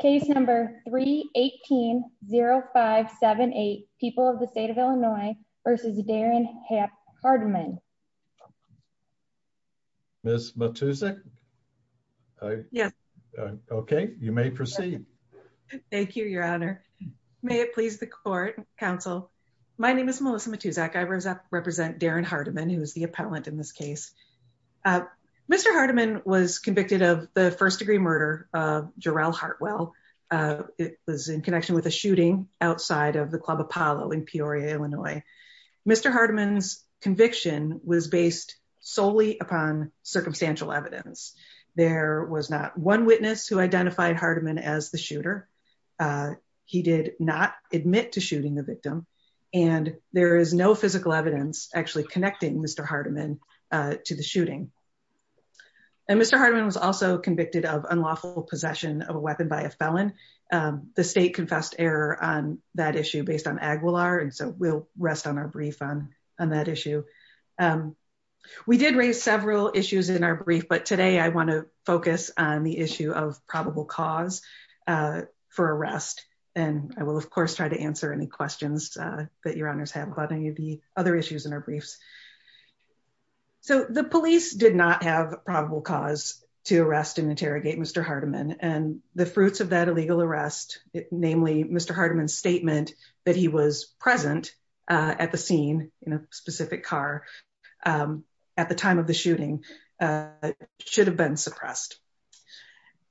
Case number 318-0578, People of the State of Illinois v. Darren Hardiman. Ms. Matuszak? Yes. Okay, you may proceed. Thank you, your honor. May it please the court, counsel. My name is Melissa Matuszak. I represent Darren Hardiman, who is the appellant in this case. Mr. Hardiman's conviction was based solely upon circumstantial evidence. There was not one witness who identified Hardiman as the shooter. He did not admit to shooting the victim. And there is no physical evidence actually connecting Mr. Hardiman to the shooting. And Mr. Hardiman was also convicted of unlawful possession of a weapon by a felon. The state confessed error on that issue based on Aguilar, and so we'll rest on our brief on that issue. We did raise several issues in our brief, but today I want to focus on the issue of probable cause for arrest. And I will, of course, try to answer any questions that your honors have about other issues in our briefs. So the police did not have probable cause to arrest and interrogate Mr. Hardiman. And the fruits of that illegal arrest, namely Mr. Hardiman's statement that he was present at the scene in a specific car at the time of the shooting, should have been suppressed.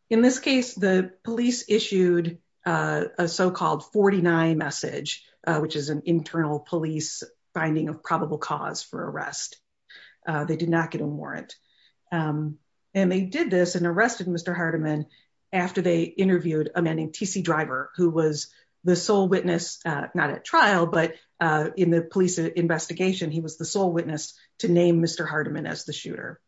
In this case, the police issued a so-called 49 message, which is an internal police finding of probable cause for arrest. They did not get a warrant. And they did this and arrested Mr. Hardiman after they interviewed a man named TC Driver, who was the sole witness, not at trial, but in the police investigation, he was the sole witness to name Mr. Hardiman as the shooter.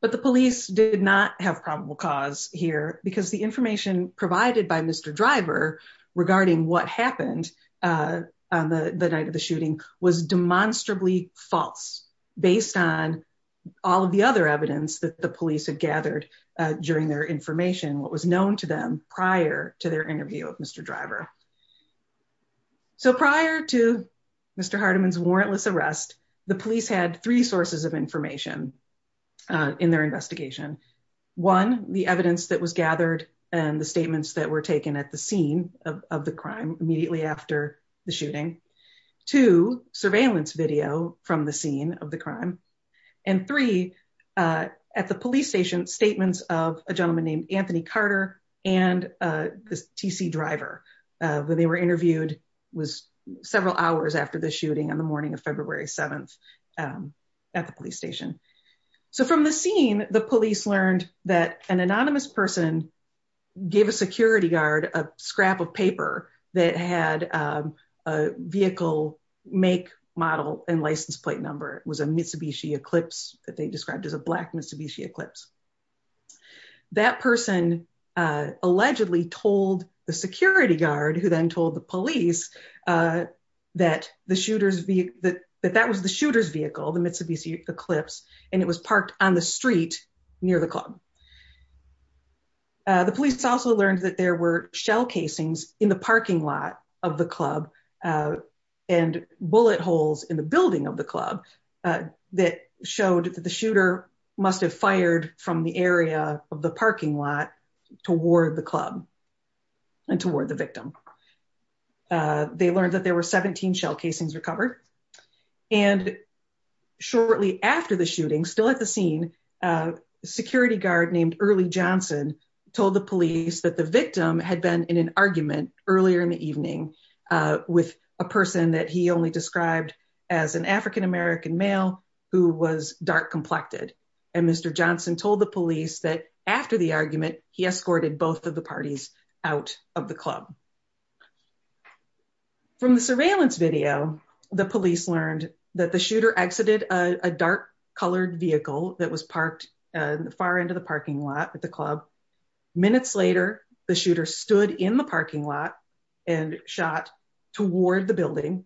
But the police did not have probable cause here because the information provided by Mr. Driver regarding what happened on the night of the shooting was demonstrably false based on all of the other evidence that the police had gathered during their information, what was known to them prior to their interview with Mr. Driver. So prior to Mr. Hardiman's warrantless arrest, the police had three sources of information in their investigation. One, the evidence that was gathered and the statements that were taken at the scene of the crime immediately after the shooting. Two, surveillance video from the scene of the crime. And three, at the police station, statements of a gentleman named Anthony Carter and TC Driver, when they were interviewed, was several hours after the shooting on the morning of February 7th at the police station. So from the scene, the police learned that an anonymous person gave a security guard a scrap of paper that had a vehicle make, model, and license plate number. It was a Mitsubishi Eclipse that they described as a black Mitsubishi Eclipse. That person allegedly told the security guard, who then told the police, that that was the shooter's vehicle, the Mitsubishi Eclipse, and it was parked on the street near the club. The police also learned that there were shell casings in the parking lot of the club and bullet holes in the building of the club that showed that the shooter must have fired from the area of the parking lot toward the club and toward the victim. They learned that there were 17 shell casings recovered. And shortly after the shooting, still at the scene, a security guard named Early Johnson told the police that the victim had been in an argument earlier in the evening with a person that he only described as an African-American male who was dark-complected. And Mr. Johnson told the police that after the argument, he escorted both of the parties out of the club. From the surveillance video, the police learned that the shooter exited a dark-colored vehicle that was parked far into the parking lot at the club. Minutes later, the shooter stood in the parking lot and shot toward the building.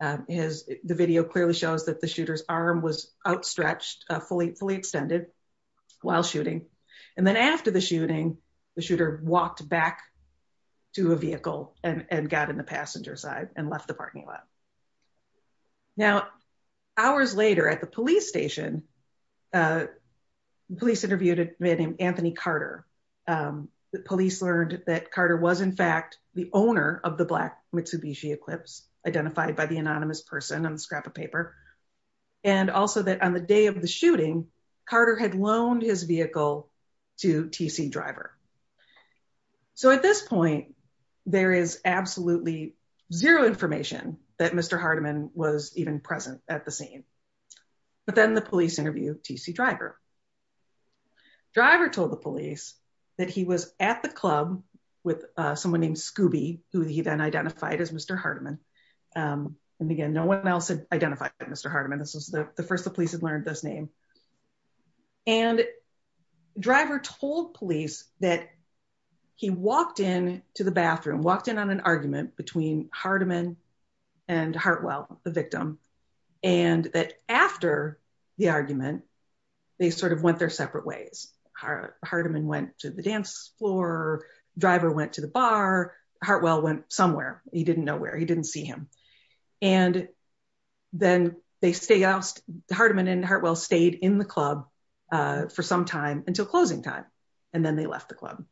The video clearly shows that the shooter's arm was outstretched, fully extended while shooting. And then after the shooting, the shooter walked back to a vehicle and got in the passenger side and left the parking lot. Now, hours later at the police station, the police interviewed a man named Anthony Carter. The police learned that Carter was in fact the owner of the black Mitsubishi Eclipse, identified by the anonymous person on the scrap of paper. And also that on the day of the shooting, Carter had loaned his vehicle to T.C. Driver. So at this point, there is absolutely zero information that Mr. Hardiman was even present at the scene. But then the police interviewed T.C. Driver. Driver told the police that he was at the club with someone named Scooby, who he then identified as Mr. Hardiman. And again, no one else had identified Mr. Hardiman. This was the first the and Driver told police that he walked in to the bathroom, walked in on an argument between Hardiman and Hartwell, the victim, and that after the argument, they sort of went their separate ways. Hardiman went to the dance floor. Driver went to the bar. Hartwell went somewhere. He didn't see him. And then Hardiman and Hartwell stayed in the club for some time until closing time. And then they left the club.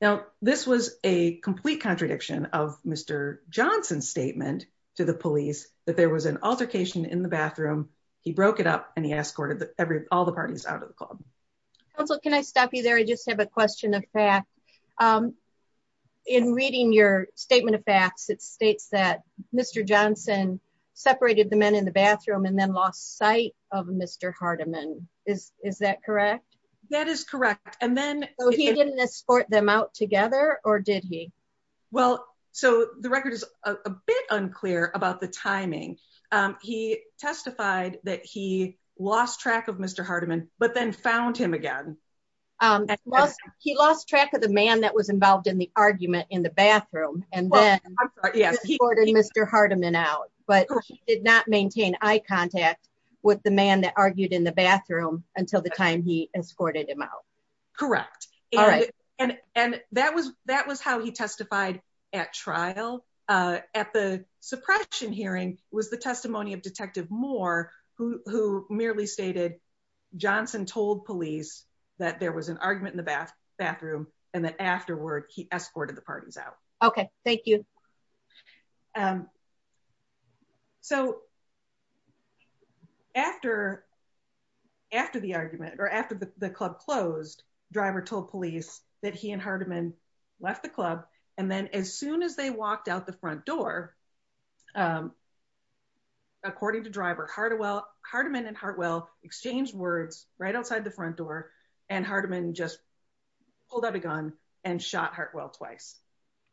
Now, this was a complete contradiction of Mr. Johnson's statement to the police that there was an altercation in the bathroom. He broke it up and he escorted Council, can I stop you there? I just have a question of fact. In reading your statement of facts, it states that Mr. Johnson separated the men in the bathroom and then lost sight of Mr. Hardiman. Is that correct? That is correct. And then he didn't escort them out together or did he? Well, so the record is a bit unclear about the timing. He testified that he lost track of Mr. Hardiman, but then found him again. He lost track of the man that was involved in the argument in the bathroom and then he escorted Mr. Hardiman out, but he did not maintain eye contact with the man that argued in the bathroom until the time he escorted him out. Correct. And that was how he testified at trial. At the suppression hearing was the testimony of Johnson told police that there was an argument in the bathroom and that afterward he escorted the parties out. Okay. Thank you. So after the argument or after the club closed, driver told police that he and Hardiman left the club. And then as soon as they walked out the exchanged words right outside the front door and Hardiman just pulled out a gun and shot Hartwell twice.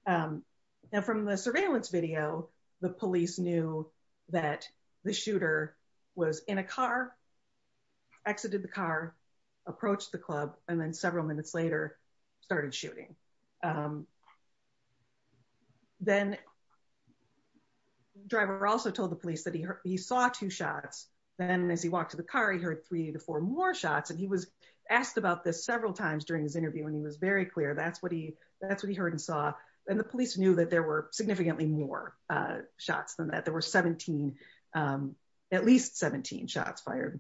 Now from the surveillance video, the police knew that the shooter was in a car, exited the car, approached the club, and then several minutes later started shooting. Okay. Then driver also told the police that he saw two shots. Then as he walked to the car, he heard three to four more shots. And he was asked about this several times during his interview, and he was very clear. That's what he heard and saw. And the police knew that there were significantly more shots than that. There were at least 17 shots fired.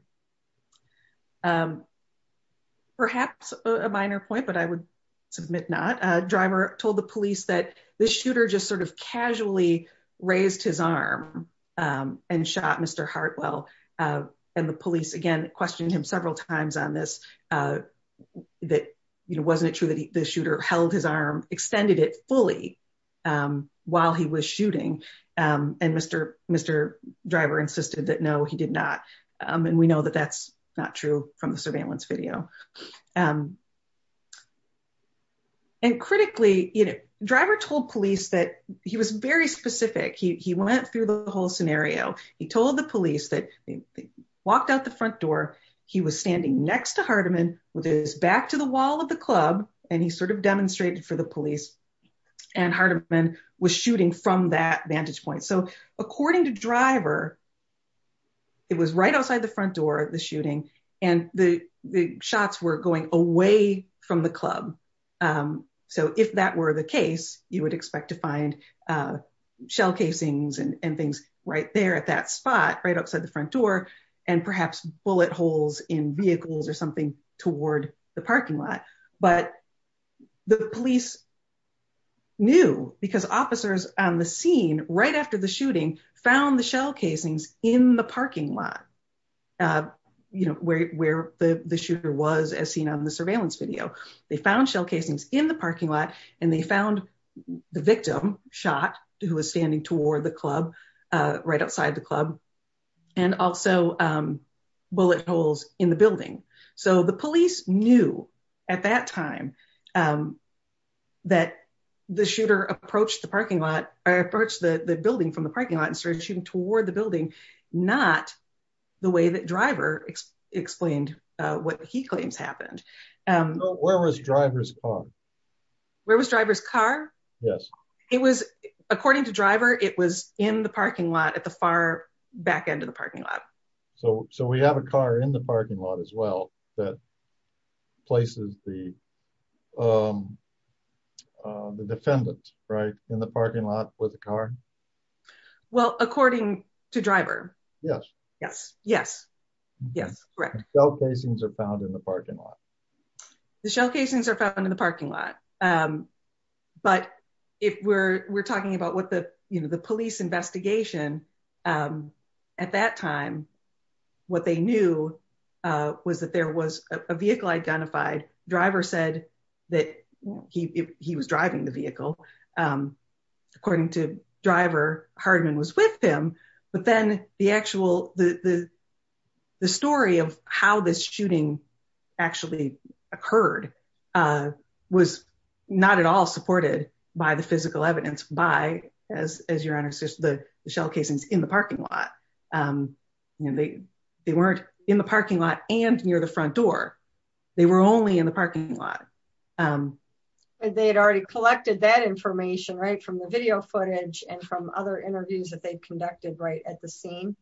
Perhaps a minor point, but I would submit not. Driver told the police that the shooter just sort of casually raised his arm and shot Mr. Hartwell. And the police, again, questioned him several times on this. That, you know, wasn't it true that the shooter held his arm, extended it fully while he was shooting? And Mr. Driver insisted that no, he did not. And we know that the shooter did not. We know that that's not true from the surveillance video. And critically, you know, driver told police that he was very specific. He went through the whole scenario. He told the police that they walked out the front door. He was standing next to Hardeman with his back to the wall of the club. And he sort of demonstrated for the police. And Hardeman was shooting from that vantage point. So according to driver, it was right outside the front door, the shooting, and the shots were going away from the club. So if that were the case, you would expect to find shell casings and things right there at that spot, right outside the front door, and perhaps bullet holes in vehicles or something toward the parking lot. But the police knew because officers on the scene right after the shooting found the shell casings in the parking lot, you know, where the shooter was as seen on the surveillance video. They found shell casings in the parking lot, and they found the victim shot who was standing toward the club, right outside the club, and also bullet holes in the building. So the police knew at that time that the shooter approached the parking lot or approached the building from the parking lot and started shooting toward the building, not the way that driver explained what he claims happened. Where was driver's car? Where was driver's car? Yes. It was, according to driver, it was in the parking lot at the far back end of the parking lot. So we have a car in the parking lot as well that places the defendant, right, in the parking lot with a car? Well, according to driver. Yes. Yes, yes, yes, correct. Shell casings are found in the parking lot. The shell casings are found in the parking lot, but if we're talking about what the, you know, the police investigation at that time, what they knew was that there was a vehicle identified. Driver said that he was driving the vehicle. According to driver, Hardeman was with him. But then the actual, the story of how this shooting actually occurred was not at all supported by the physical evidence by, as your honor says, the shell casings in the parking lot. They weren't in the parking lot and near the front door. They were only in the parking lot. They had already collected that information, right, from the video footage and from other interviews that they've conducted right at the scene?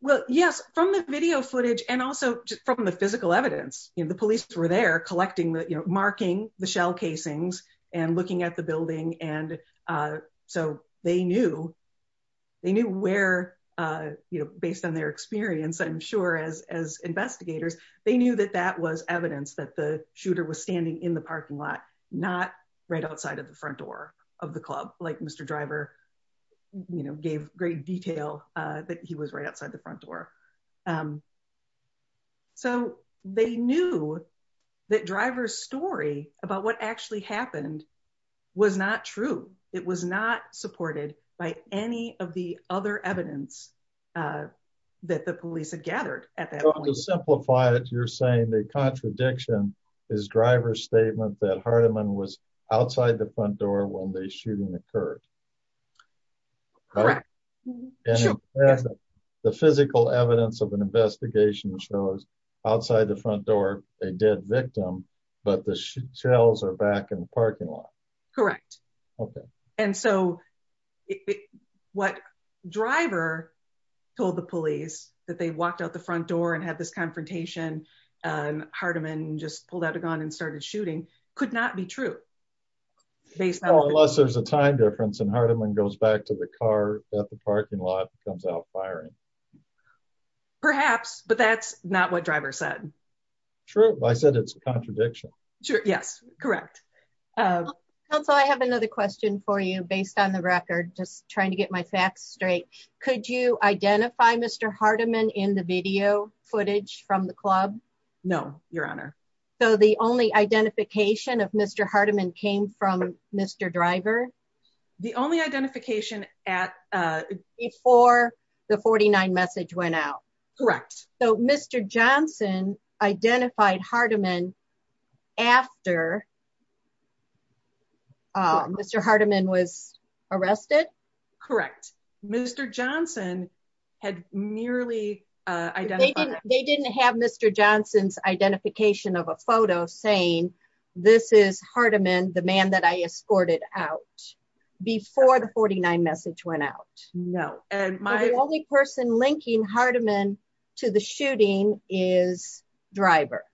Well, yes, from the video footage and also just from the physical evidence, you know, the police were there collecting the, you know, marking the shell casings and looking at the building. And so they knew, they knew where, you know, based on their experience, I'm sure as investigators, they knew that that was evidence that the shooter was standing in the parking lot, not right outside of the front door of the club, like Mr. Driver, you know, gave great detail that he was right outside the front door. So they knew that driver's story about what actually happened was not true. It was not supported by any of the other evidence that the police had gathered at that point. To simplify it, you're saying the contradiction is Driver's statement that Hardiman was outside the front door when the shooting occurred? Correct. The physical evidence of an investigation shows outside the front door, a dead victim, but the shells are back in the parking lot? Correct. And so what Driver told the police, that they walked out the front door and had this confrontation, and Hardiman just pulled out a gun and started shooting, could not be true. Unless there's a time difference and Hardiman goes back to the car at the parking lot and comes out firing. Perhaps, but that's not what Driver said. True. I said it's a contradiction. Sure. Yes. Correct. Counsel, I have another question for you based on the record, just trying to get my facts straight. Could you identify Mr. Hardiman in the video footage from the club? No, Your Honor. So the only identification of Mr. Hardiman came from Mr. Driver? The only identification at... Before the 49 message went out? Correct. So Mr. Johnson identified Hardiman after Mr. Hardiman was arrested? Correct. Mr. Johnson had nearly identified... They didn't have Mr. Johnson's identification of a photo saying, this is Hardiman, the man that I escorted out before the 49 message went out? No. And my... So the only person linking Hardiman to the shooting is Driver?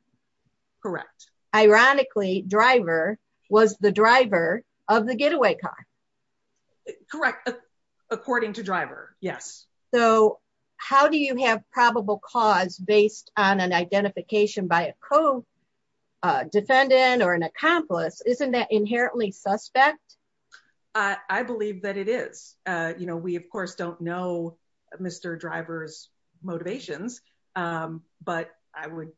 Correct. Ironically, Driver was the driver of the getaway car. Correct. According to Driver. Yes. So how do you have probable cause based on an identification by a co-defendant or an accomplice? Isn't that inherently suspect? I believe that it is. We, of course, don't know Mr. Driver's motivations, but I would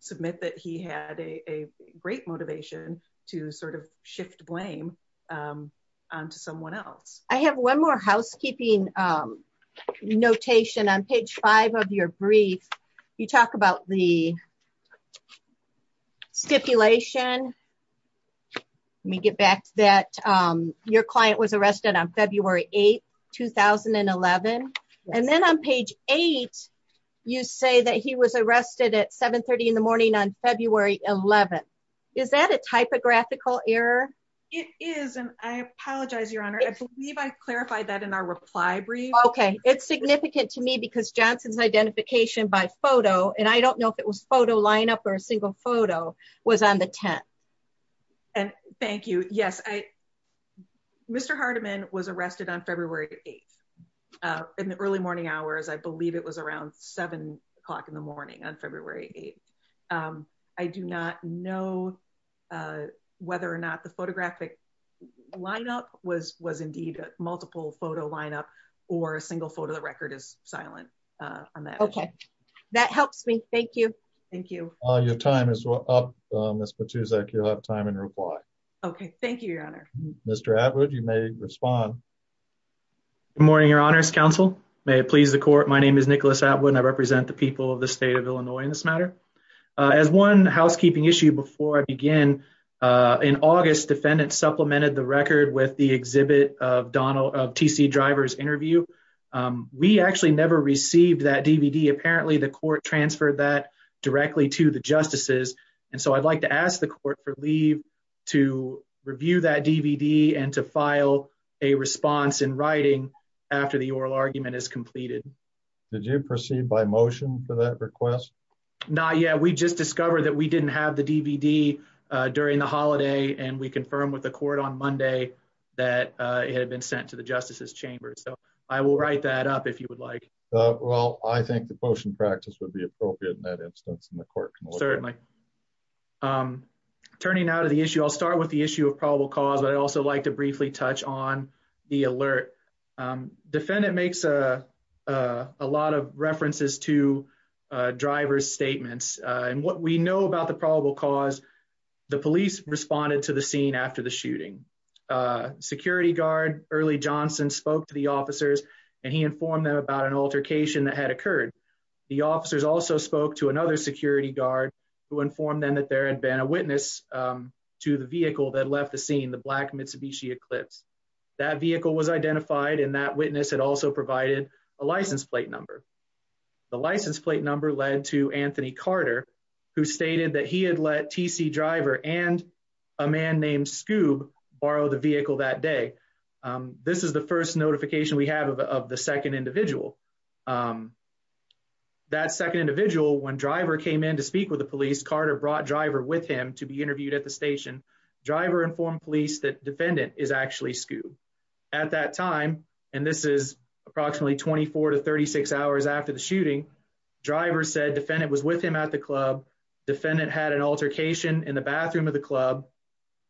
submit that he had a great motivation to sort of shift blame to someone else. I have one more housekeeping notation on page five of your brief. You talk about the stipulation. Let me get back to that. Your client was arrested on February 8th, 2011. And then on page eight, you say that he was arrested at 7.30 in the morning on February 11th. Is that a typographical error? It is. And I apologize, Your Honor. I believe I clarified that in our reply brief. Okay. It's significant to me because Johnson's identification by photo, and I don't know if it was photo lineup or a single photo, was on the 10th. And thank you. Yes. Mr. Hardiman was arrested on February 8th. In the early morning hours, I believe it was around seven o'clock in the morning on February 8th. I do not know whether or not the photographic lineup was indeed a multiple photo lineup or a single photo. The record is silent on that. Okay. That helps me. Thank you. Thank you. Your time is up, Ms. Patuzak. You'll have time in reply. Okay. Thank you, Your Honor. Mr. Atwood, you may respond. Good morning, Your Honor's counsel. May it please the court. My name is Nicholas Atwood, and I represent the people of the state of Illinois in this matter. As one housekeeping issue before I begin, in August, defendants supplemented the record with the exhibit of TC Driver's interview. We actually never received that DVD. Apparently, the court transferred that directly to the justices. And so I'd like to ask the court for leave to review that DVD and to file a response in writing after the oral argument is completed. Did you proceed by motion for that request? Not yet. We just discovered that we didn't have the DVD during the holiday, and we confirmed with the court on Monday that it had been sent to the justices chamber. So I will write that up if you would like. Well, I think the motion practice would be appropriate in that instance, and the court can look at it. Certainly. Turning now to the issue, I'll start with the issue of probable cause, but I'd also like to briefly touch on the alert. Defendant makes a lot of references to driver's statements. And what we know about the probable cause, the police responded to the scene after the shooting. Security guard Early Johnson spoke to the officers, and he informed them about an altercation that had occurred. The officers also spoke to another security guard who informed them that there had been a witness to the vehicle that left the scene, the black Mitsubishi Eclipse. That vehicle was identified, and that witness had also provided a license plate number. The license plate number led to Anthony Carter, who stated that he had let TC driver and a man named Scoob borrow the vehicle that day. This is the first notification we have of the second individual. That second individual, when driver came in to speak with the police, Carter brought driver with him to be interviewed at the station. Driver informed police that defendant is actually Scoob. At that time, and this is approximately 24 to 36 hours after the shooting, driver said defendant was with him at the club. Defendant had an altercation in the bathroom of the club,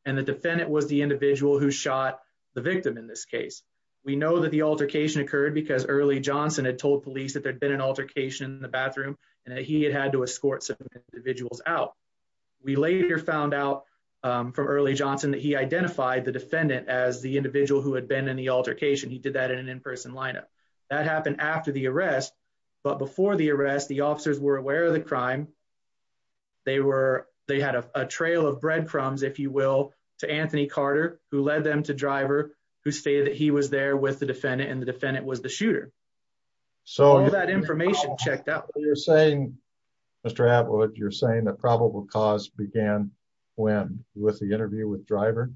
and the defendant was the individual who shot the victim in this case. We know that the altercation occurred because Early Johnson had told police that there'd been an altercation in the bathroom, and that he had had to escort some individuals out. We later found out from Johnson that he identified the defendant as the individual who had been in the altercation. He did that in an in-person lineup. That happened after the arrest, but before the arrest, the officers were aware of the crime. They had a trail of breadcrumbs, if you will, to Anthony Carter, who led them to driver, who stated that he was there with the defendant, and the defendant was the shooter. All that information checked out. You're saying, Mr. Atwood, you're saying the probable cause began when? With the interview with driver?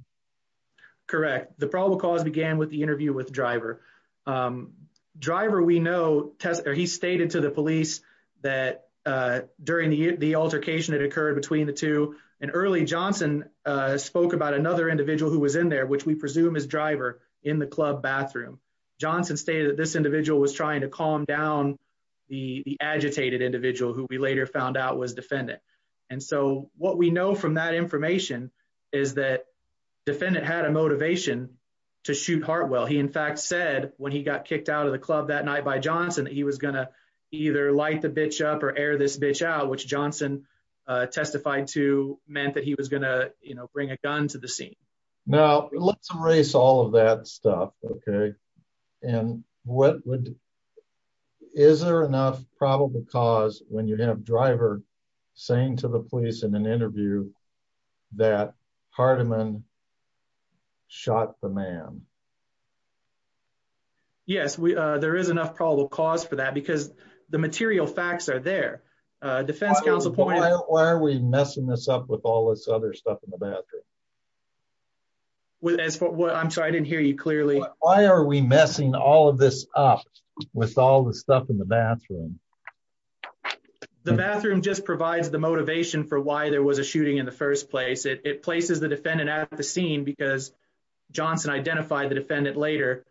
Correct. The probable cause began with the interview with driver. Driver, we know, he stated to the police that during the altercation that occurred between the two, and Early Johnson spoke about another individual who was in there, which we presume is driver, in the club bathroom. Johnson stated that this individual was trying to calm down the agitated individual who we later found out was defendant. What we know from that information is that defendant had a motivation to shoot Hartwell. He, in fact, said when he got kicked out of the club that night by Johnson, he was going to either light the bitch up or air this bitch out, which Johnson testified to meant that he was going to bring a gun to the scene. Now, let's erase all of that stuff, okay? Is there enough probable cause when you have driver saying to the police in an interview that Hardiman shot the man? Yes, there is enough probable cause for that because the material facts are there. Defense counsel pointed out... Why are we messing this up with all this other stuff in the bathroom? Well, I'm sorry, I didn't hear you clearly. Why are we messing all of this up with all the stuff in the bathroom? The bathroom just provides the motivation for why there was a shooting in the first place. It places the defendant at the scene because Johnson identified the defendant later,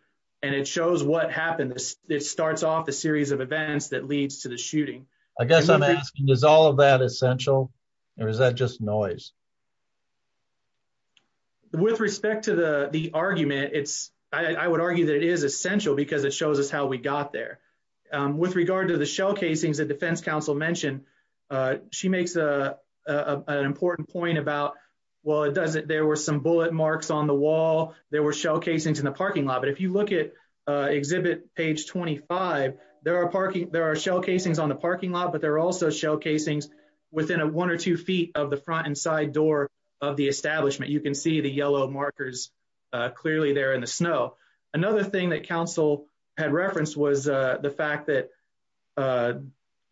and it shows what happened. It starts off a series of events that leads to the shooting. I guess I'm asking, is all of that essential, or is that just noise? With respect to the argument, I would argue that it is essential because it shows us how we got there. With regard to the shell casings that defense counsel mentioned, she makes an important point about, well, there were some bullet marks on the wall, there were shell casings in the parking lot. But if you look at exhibit page 25, there are shell casings on the parking lot, but there are also shell casings within one or two feet of the front and side door of the parking lot. There are yellow markers clearly there in the snow. Another thing that counsel had referenced was the fact that a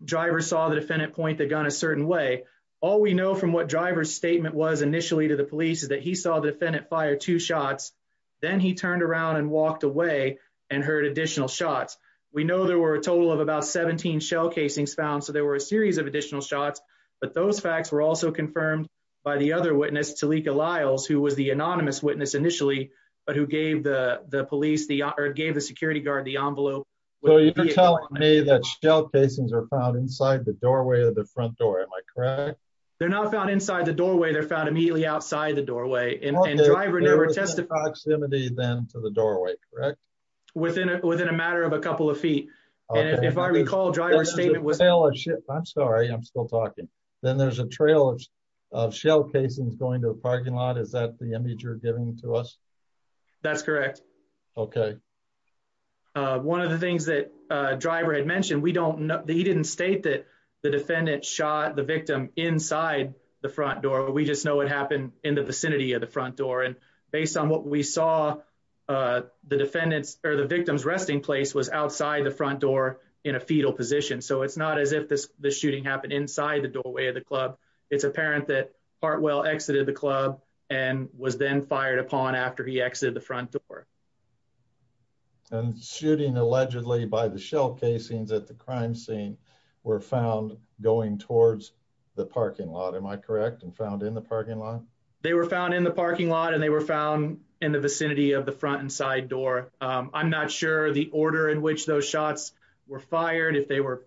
driver saw the defendant point the gun a certain way. All we know from what driver's statement was initially to the police is that he saw the defendant fire two shots, then he turned around and walked away and heard additional shots. We know there were a total of about 17 shell casings found, so there were a series of additional shots. But those facts were also confirmed by the other witness, Talika Liles, who was the anonymous witness initially, but who gave the security guard the envelope. So you're telling me that shell casings are found inside the doorway of the front door, am I correct? They're not found inside the doorway, they're found immediately outside the doorway, and driver never testified. Okay, there was a proximity then to the doorway, correct? Within a matter of a couple of feet. And if I recall driver's statement was- I'm sorry, I'm still talking. Then there's a trail of shell casings going to the parking lot. Is that the image you're giving to us? That's correct. Okay. One of the things that driver had mentioned, we don't know- he didn't state that the defendant shot the victim inside the front door. We just know it happened in the vicinity of the front door. And based on what we saw, the defendant's or the victim's resting place was outside the front door in a fetal position. So it's not as if this shooting happened inside the doorway of the club. It's apparent that Hartwell exited the club and was then fired upon after he exited the front door. And shooting allegedly by the shell casings at the crime scene were found going towards the parking lot, am I correct, and found in the parking lot? They were found in the parking lot and they were found in the vicinity of the front and side door. I'm not sure the order in which those shots were fired. No,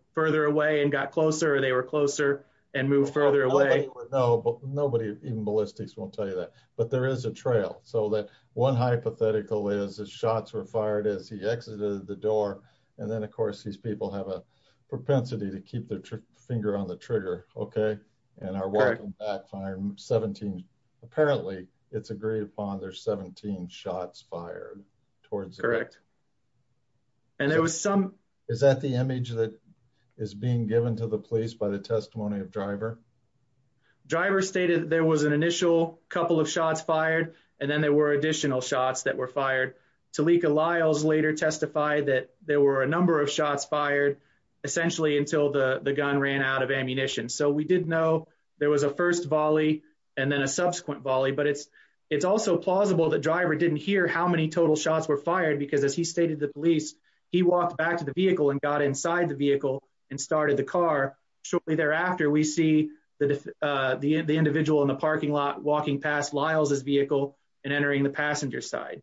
but nobody, even ballistics, won't tell you that. But there is a trail. So that one hypothetical is the shots were fired as he exited the door. And then, of course, these people have a propensity to keep their finger on the trigger, okay, and are walking back. Apparently it's agreed upon there's 17 shots fired towards- Correct. And it was some- Is that the image that is being given to the police by the testimony of Driver? Driver stated there was an initial couple of shots fired and then there were additional shots that were fired. Talika Lyles later testified that there were a number of shots fired essentially until the gun ran out of ammunition. So we did know there was a first volley and then a subsequent volley. But it's also plausible that Driver didn't hear how many total shots were fired because as he stated to the police, he walked back to the vehicle and got inside the vehicle and started the car. Shortly thereafter, we see the individual in the parking lot walking past Lyles' vehicle and entering the passenger side.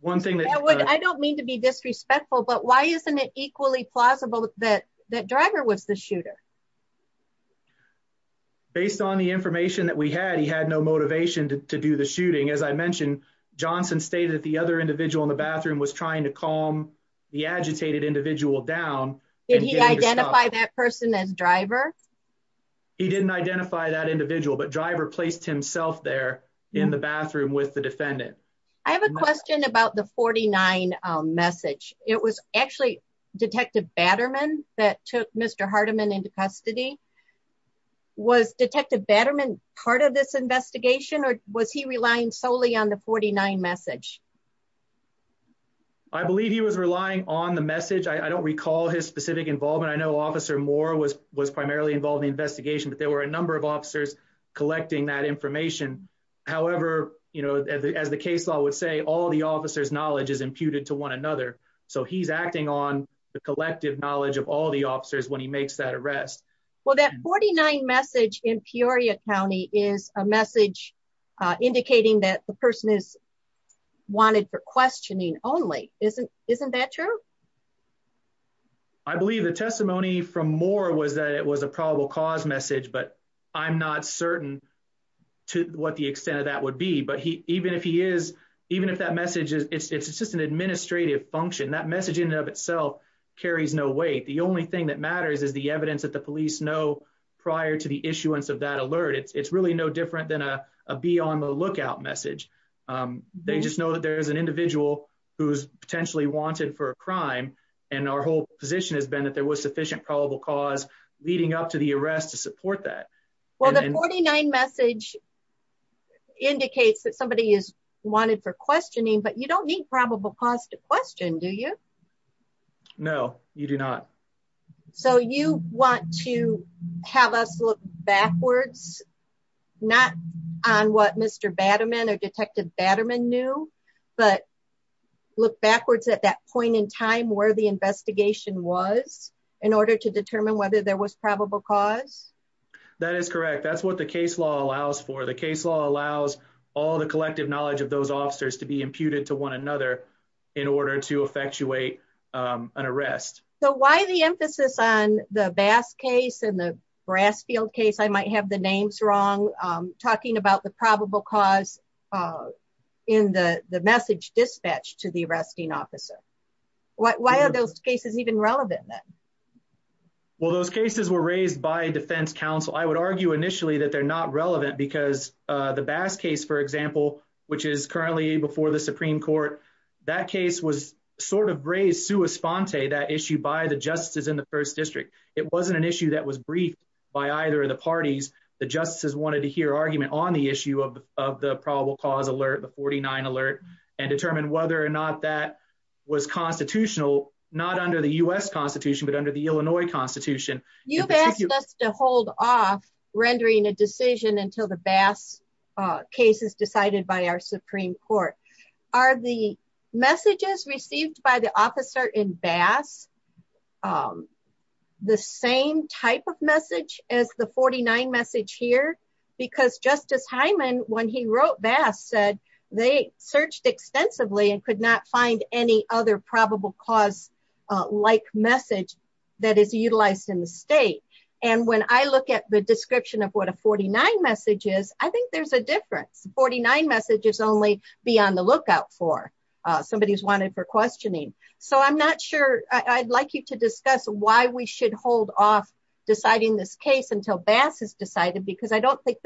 One thing that- I don't mean to be disrespectful, but why isn't it equally plausible that Driver was the shooter? Based on the information that we had, he had no motivation to do the shooting. As I mentioned, Johnson stated that the other individual in the bathroom was trying to calm the agitated individual down. Did he identify that person as Driver? He didn't identify that individual, but Driver placed himself there in the bathroom with the defendant. I have a question about the 49 message. It was actually Detective Batterman that took Mr. Hardiman into custody. Was Detective Batterman part of this investigation or was he relying solely on the 49 message? I believe he was relying on the message. I don't recall his specific involvement. I know Officer Moore was primarily involved in the investigation, but there were a number of officers collecting that information. However, as the case law would say, all the officer's knowledge is imputed to one another. So he's acting on the collective knowledge of all the officers when he makes that arrest. Well, that 49 message in Peoria County is a message indicating that the person is wanted for questioning only. Isn't that true? I believe the testimony from Moore was that it was a probable cause message, but I'm not certain to what the extent of that would be. But even if that message is just an administrative function, that message in and of itself carries no weight. The only thing that matters is the evidence that the police know prior to the issuance of that alert. It's really no different than a be on the lookout message. They just know that there's an individual who's potentially wanted for a crime, and our whole position has been that there was sufficient probable cause leading up to the arrest to support that. Well, the 49 message indicates that somebody is wanted for questioning, but you don't need a probable cause to question, do you? No, you do not. So you want to have us look backwards, not on what Mr. Batterman or Detective Batterman knew, but look backwards at that point in time where the investigation was in order to determine whether there was probable cause? That is correct. That's what the case law allows for. The case law allows all the collective knowledge of those officers to be imputed to one another in order to effectuate an arrest. So why the emphasis on the Bass case and the Brassfield case? I might have the names wrong. I'm talking about the probable cause in the message dispatched to the arresting officer. Why are those cases even relevant then? Well, those cases were raised by defense counsel. I would argue initially that they're not relevant because the Bass case, for example, which is currently before the Supreme Court, that case was sort of raised sua sponte, that issue by the justices in the first district. It wasn't an issue that was briefed by either of the parties. The justices wanted to hear argument on the issue of the probable cause alert, the 49 alert, and determine whether or not that was constitutional, not under the U.S. Constitution, but under the Illinois Constitution. You've asked us to hold off rendering a decision until the Bass case is decided by our Supreme Court. Are the messages received by the officer in Bass the same type of message as the 49 message here? Because Justice Hyman, when he wrote Bass, said they searched extensively and could not find any other probable cause-like message that is state. And when I look at the description of what a 49 message is, I think there's a difference. 49 messages only be on the lookout for somebody who's wanted for questioning. So I'm not sure. I'd like you to discuss why we should hold off deciding this case until Bass is decided, because I don't think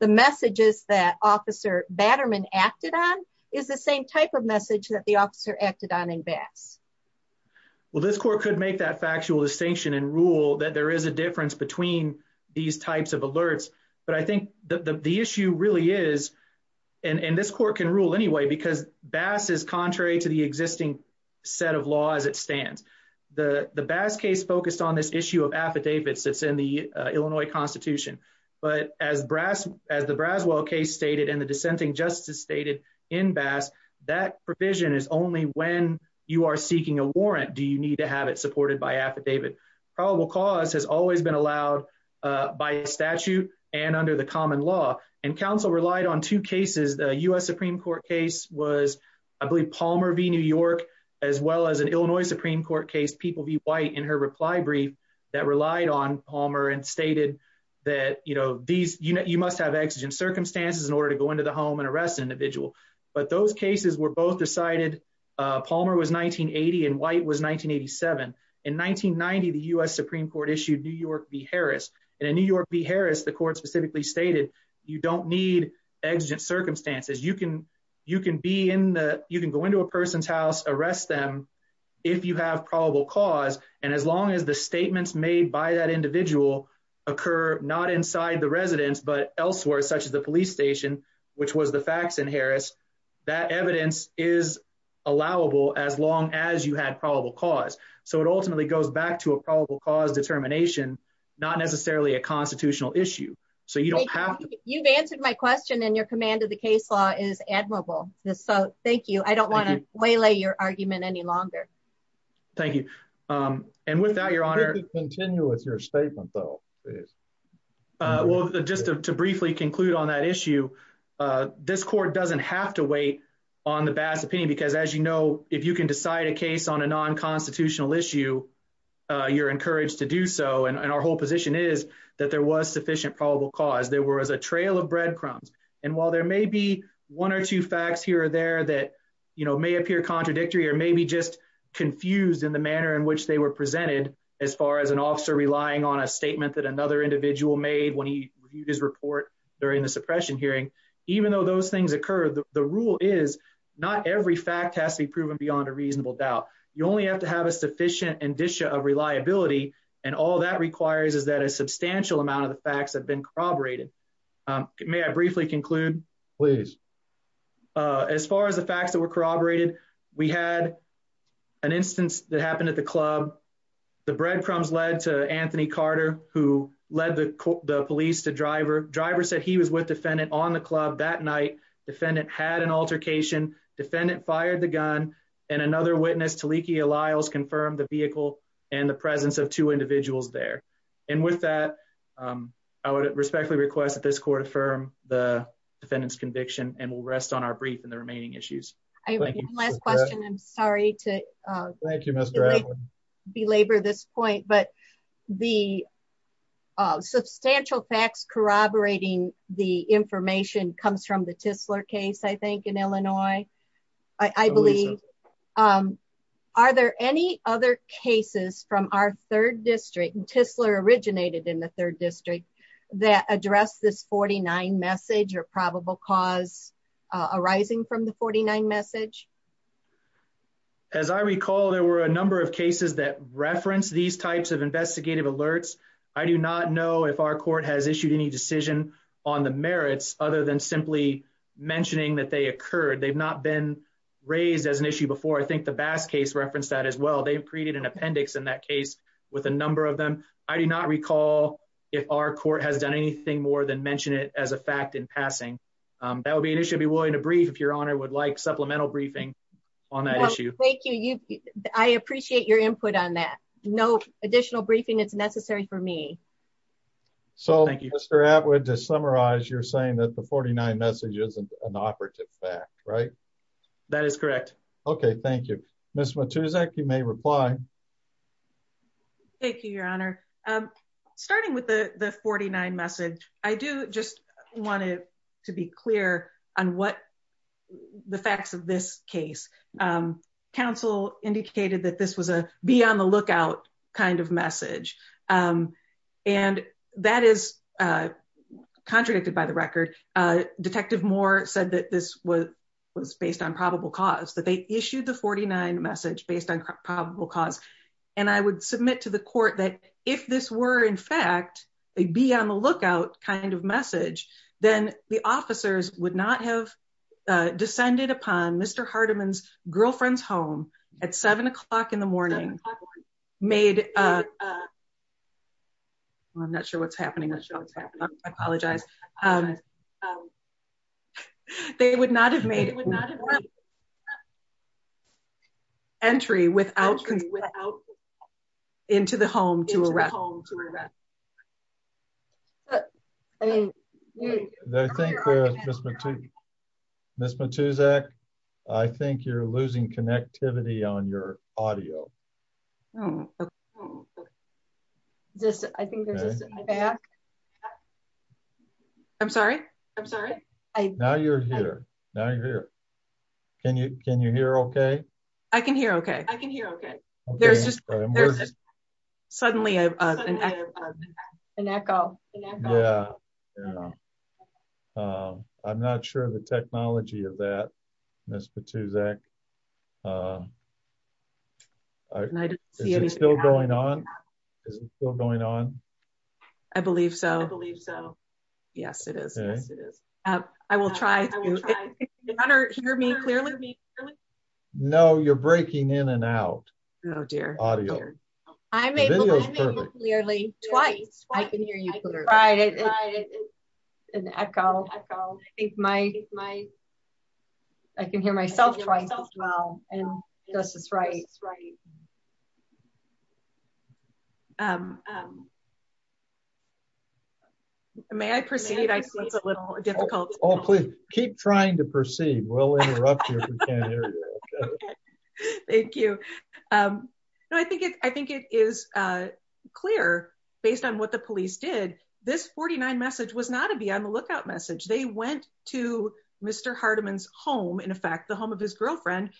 the messages that Officer Batterman acted on is the same type of message that the officer acted on in Bass. Well, this court could make that actual distinction and rule that there is a difference between these types of alerts, but I think the issue really is, and this court can rule anyway, because Bass is contrary to the existing set of law as it stands. The Bass case focused on this issue of affidavits that's in the Illinois Constitution, but as the Braswell case stated and the dissenting justice stated in Bass, that provision is only when you are seeking a warrant do you need to have it supported by affidavit. Probable cause has always been allowed by statute and under the common law, and counsel relied on two cases. The U.S. Supreme Court case was, I believe, Palmer v. New York, as well as an Illinois Supreme Court case, People v. White, in her reply brief that relied on Palmer and stated that, you know, you must have exigent circumstances in order to go into the home and arrest an individual. But those cases were both decided, Palmer was 1980 and White was 1987, in 1990, the U.S. Supreme Court issued New York v. Harris, and in New York v. Harris, the court specifically stated you don't need exigent circumstances. You can go into a person's house, arrest them if you have probable cause, and as long as the statements made by that individual occur not inside the residence, but elsewhere, such as the police station, which was the facts in Harris, that evidence is allowable as long as you had probable cause. So it ultimately goes back to a probable cause determination, not necessarily a constitutional issue. So you don't have to- You've answered my question and your command of the case law is admirable, so thank you. I don't want to waylay your argument any longer. Thank you. And with that, your honor- Continue with your statement though, please. Well, just to briefly conclude on that issue, this court doesn't have to wait on the Bass opinion, because as you know, if you can decide a case on a non-constitutional issue, you're encouraged to do so, and our whole position is that there was sufficient probable cause. There was a trail of breadcrumbs, and while there may be one or two facts here or there that, you know, may appear contradictory or maybe just confused in the manner in which they were made when he reviewed his report during the suppression hearing, even though those things occur, the rule is not every fact has to be proven beyond a reasonable doubt. You only have to have a sufficient indicia of reliability, and all that requires is that a substantial amount of the facts have been corroborated. May I briefly conclude? Please. As far as the facts that were corroborated, we had an instance that happened at the club. The breadcrumbs led to Anthony Carter, who led the police to Driver. Driver said he was with Defendant on the club that night. Defendant had an altercation. Defendant fired the gun, and another witness, Taliki Alliles, confirmed the vehicle and the presence of two individuals there. And with that, I would respectfully request that this court affirm the defendant's conviction, and we'll rest on our brief in the remaining issues. I have one last question. I'm sorry to... Thank you, Mr. Adler. ...belabor this point, but the substantial facts corroborating the information comes from the Tisler case, I think, in Illinois, I believe. Are there any other cases from our third district, and Tisler originated in the third district, that address this 49 message or probable cause arising from the 49 message? As I recall, there were a number of cases that reference these types of investigative alerts. I do not know if our court has issued any decision on the merits other than simply mentioning that they occurred. They've not been raised as an issue before. I think the Bass case referenced that as well. They've created an appendix in that case with a number of them. I do not recall if our court has done anything more than mention it as a fact in passing. That would be an issue if your honor would like supplemental briefing on that issue. Thank you. I appreciate your input on that. No additional briefing is necessary for me. So, Mr. Atwood, to summarize, you're saying that the 49 message isn't an operative fact, right? That is correct. Okay, thank you. Ms. Matuszak, you may reply. Thank you, your honor. Starting with the 49 message, I do just want to be clear on what the facts of this case. Counsel indicated that this was a be on the lookout kind of message. And that is contradicted by the record. Detective Moore said that this was based on probable cause, that they issued the 49 message based on probable cause. And I would submit to the court that if this were in fact, a be on the lookout kind of message, then the officers would not have descended upon Mr. Hardiman's girlfriend's home at seven o'clock in the morning, made... I'm not sure what's happening. I apologize. I apologize. They would not have made it. Entry without consent into the home to arrest. Ms. Matuszak, I think you're losing connectivity on your audio. Okay. I think there's a feedback. I'm sorry. I'm sorry. Now you're here. Now you're here. Can you hear okay? I can hear okay. I can hear okay. There's just suddenly an echo. I'm not sure the technology of that, Ms. Matuszak. Is it still going on? Is it still going on? I believe so. I believe so. Yes, it is. I will try to... I will try. Your Honor, hear me clearly? No, you're breaking in and out. Oh, dear. Audio. I'm able to hear you clearly. Twice. I can hear you clearly. Right. It's an echo. I can hear myself twice as well. And Justice Wright. I can hear myself twice as well. May I proceed? I see it's a little difficult. Oh, please keep trying to proceed. We'll interrupt you if we can't hear you. Thank you. I think it is clear based on what the police did. This 49 message was not a be on the lookout message. They went to Mr. Hardiman's home. In fact, the home of his girlfriend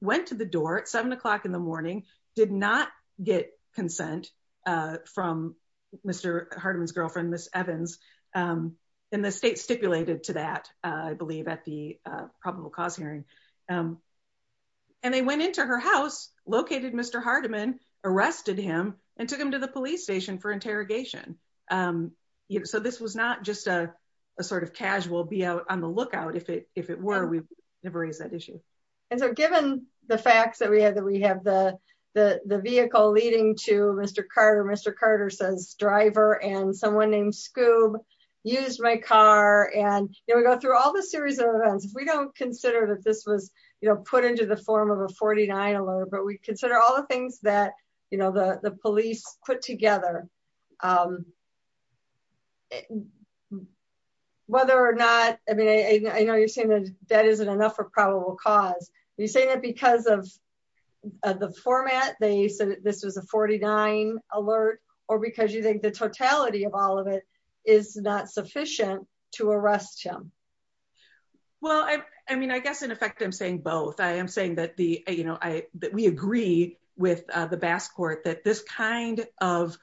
went to the door at seven o'clock in the morning, did not get consent from Mr. Hardiman's girlfriend, Miss Evans. And the state stipulated to that, I believe at the probable cause hearing. And they went into her house, located Mr. Hardiman, arrested him and took him to the police station for interrogation. So this was not just a sort of casual be out on the lookout. If it were, we never raised that issue. And so given the facts that we have, that we have the vehicle leading to Mr. Carter, Mr. Carter says driver and someone named Scoob used my car. And, you know, we go through all the series of events. If we don't consider that this was, you know, put into the form of a 49 alert, but we consider all the things that, you know, the police put together. Whether or not, I mean, I know you're saying that isn't enough for probable cause. You say that because of the format, they said this was a 49 alert, or because you think the totality of all of it is not sufficient to arrest him. Well, I mean, I guess in effect, I'm saying both. I am saying that the, you know, I, that we agree with the bass court, that this kind of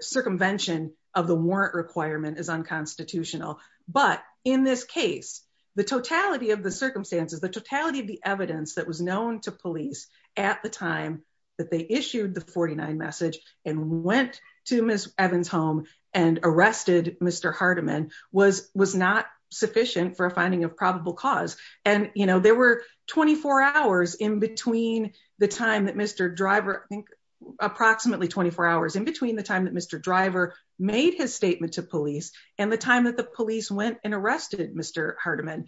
circumvention of the warrant requirement is unconstitutional. But in this case, the totality of the circumstances, the totality of the evidence that was known to police at the time that they issued the 49 message and went to Ms. Evans home and arrested Mr. Hardiman was not sufficient for a finding of probable cause. And, you know, there were 24 hours in between the time that Mr. Driver, I think approximately 24 hours in between the time that Mr. Driver made his statement to police and the time that the police went and arrested Mr. Hardiman.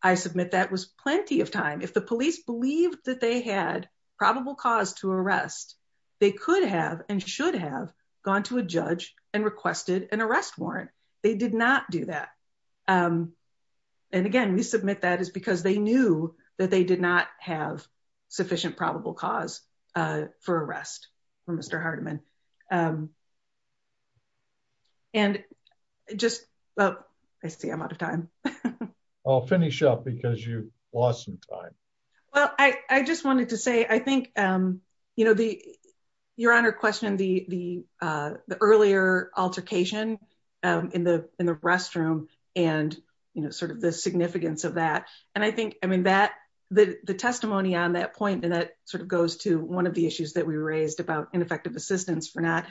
I submit that was plenty of time. If the police believed that they had probable cause to arrest, they could have and should have gone to a judge and requested an arrest warrant. They did not do that. And again, we submit that is because they knew that they did not have sufficient probable cause for arrest for Mr. Hardiman. And just, well, I see I'm out of time. I'll finish up because you lost some time. Well, I just wanted to say, I think, you know, the, your honor questioned the earlier altercation in the restroom and, you know, sort of the significance of that. And I think, I mean, that the testimony on that point and that sort of goes to one of the issues that we raised about ineffective assistance for not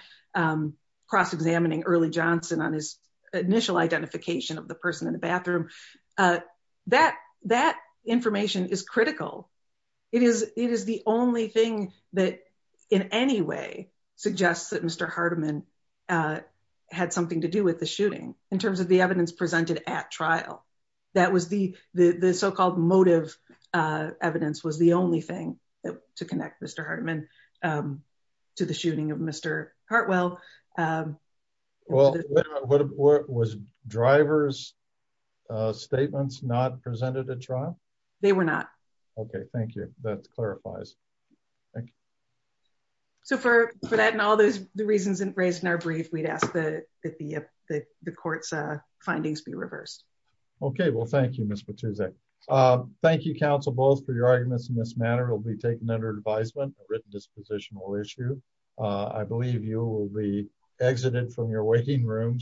cross-examining Early Johnson on his initial identification of the person in the bathroom. That information is critical. It is the only thing that in any way suggests that Mr. Hardiman had something to do with the shooting in terms of the evidence presented at trial. That was the so-called motive evidence was the only thing to connect Mr. Hardiman to the shooting of Mr. Hartwell. Well, was driver's statements not presented at trial? They were not. Okay, thank you. That clarifies. So for that and all those reasons and raised in our brief, we'd ask that the court's findings be reversed. Okay, well, thank you, Ms. Patuzak. Thank you, counsel, both for your arguments in this manner will be taken under advisement written dispositional issue. I believe you will be exited from your waiting rooms.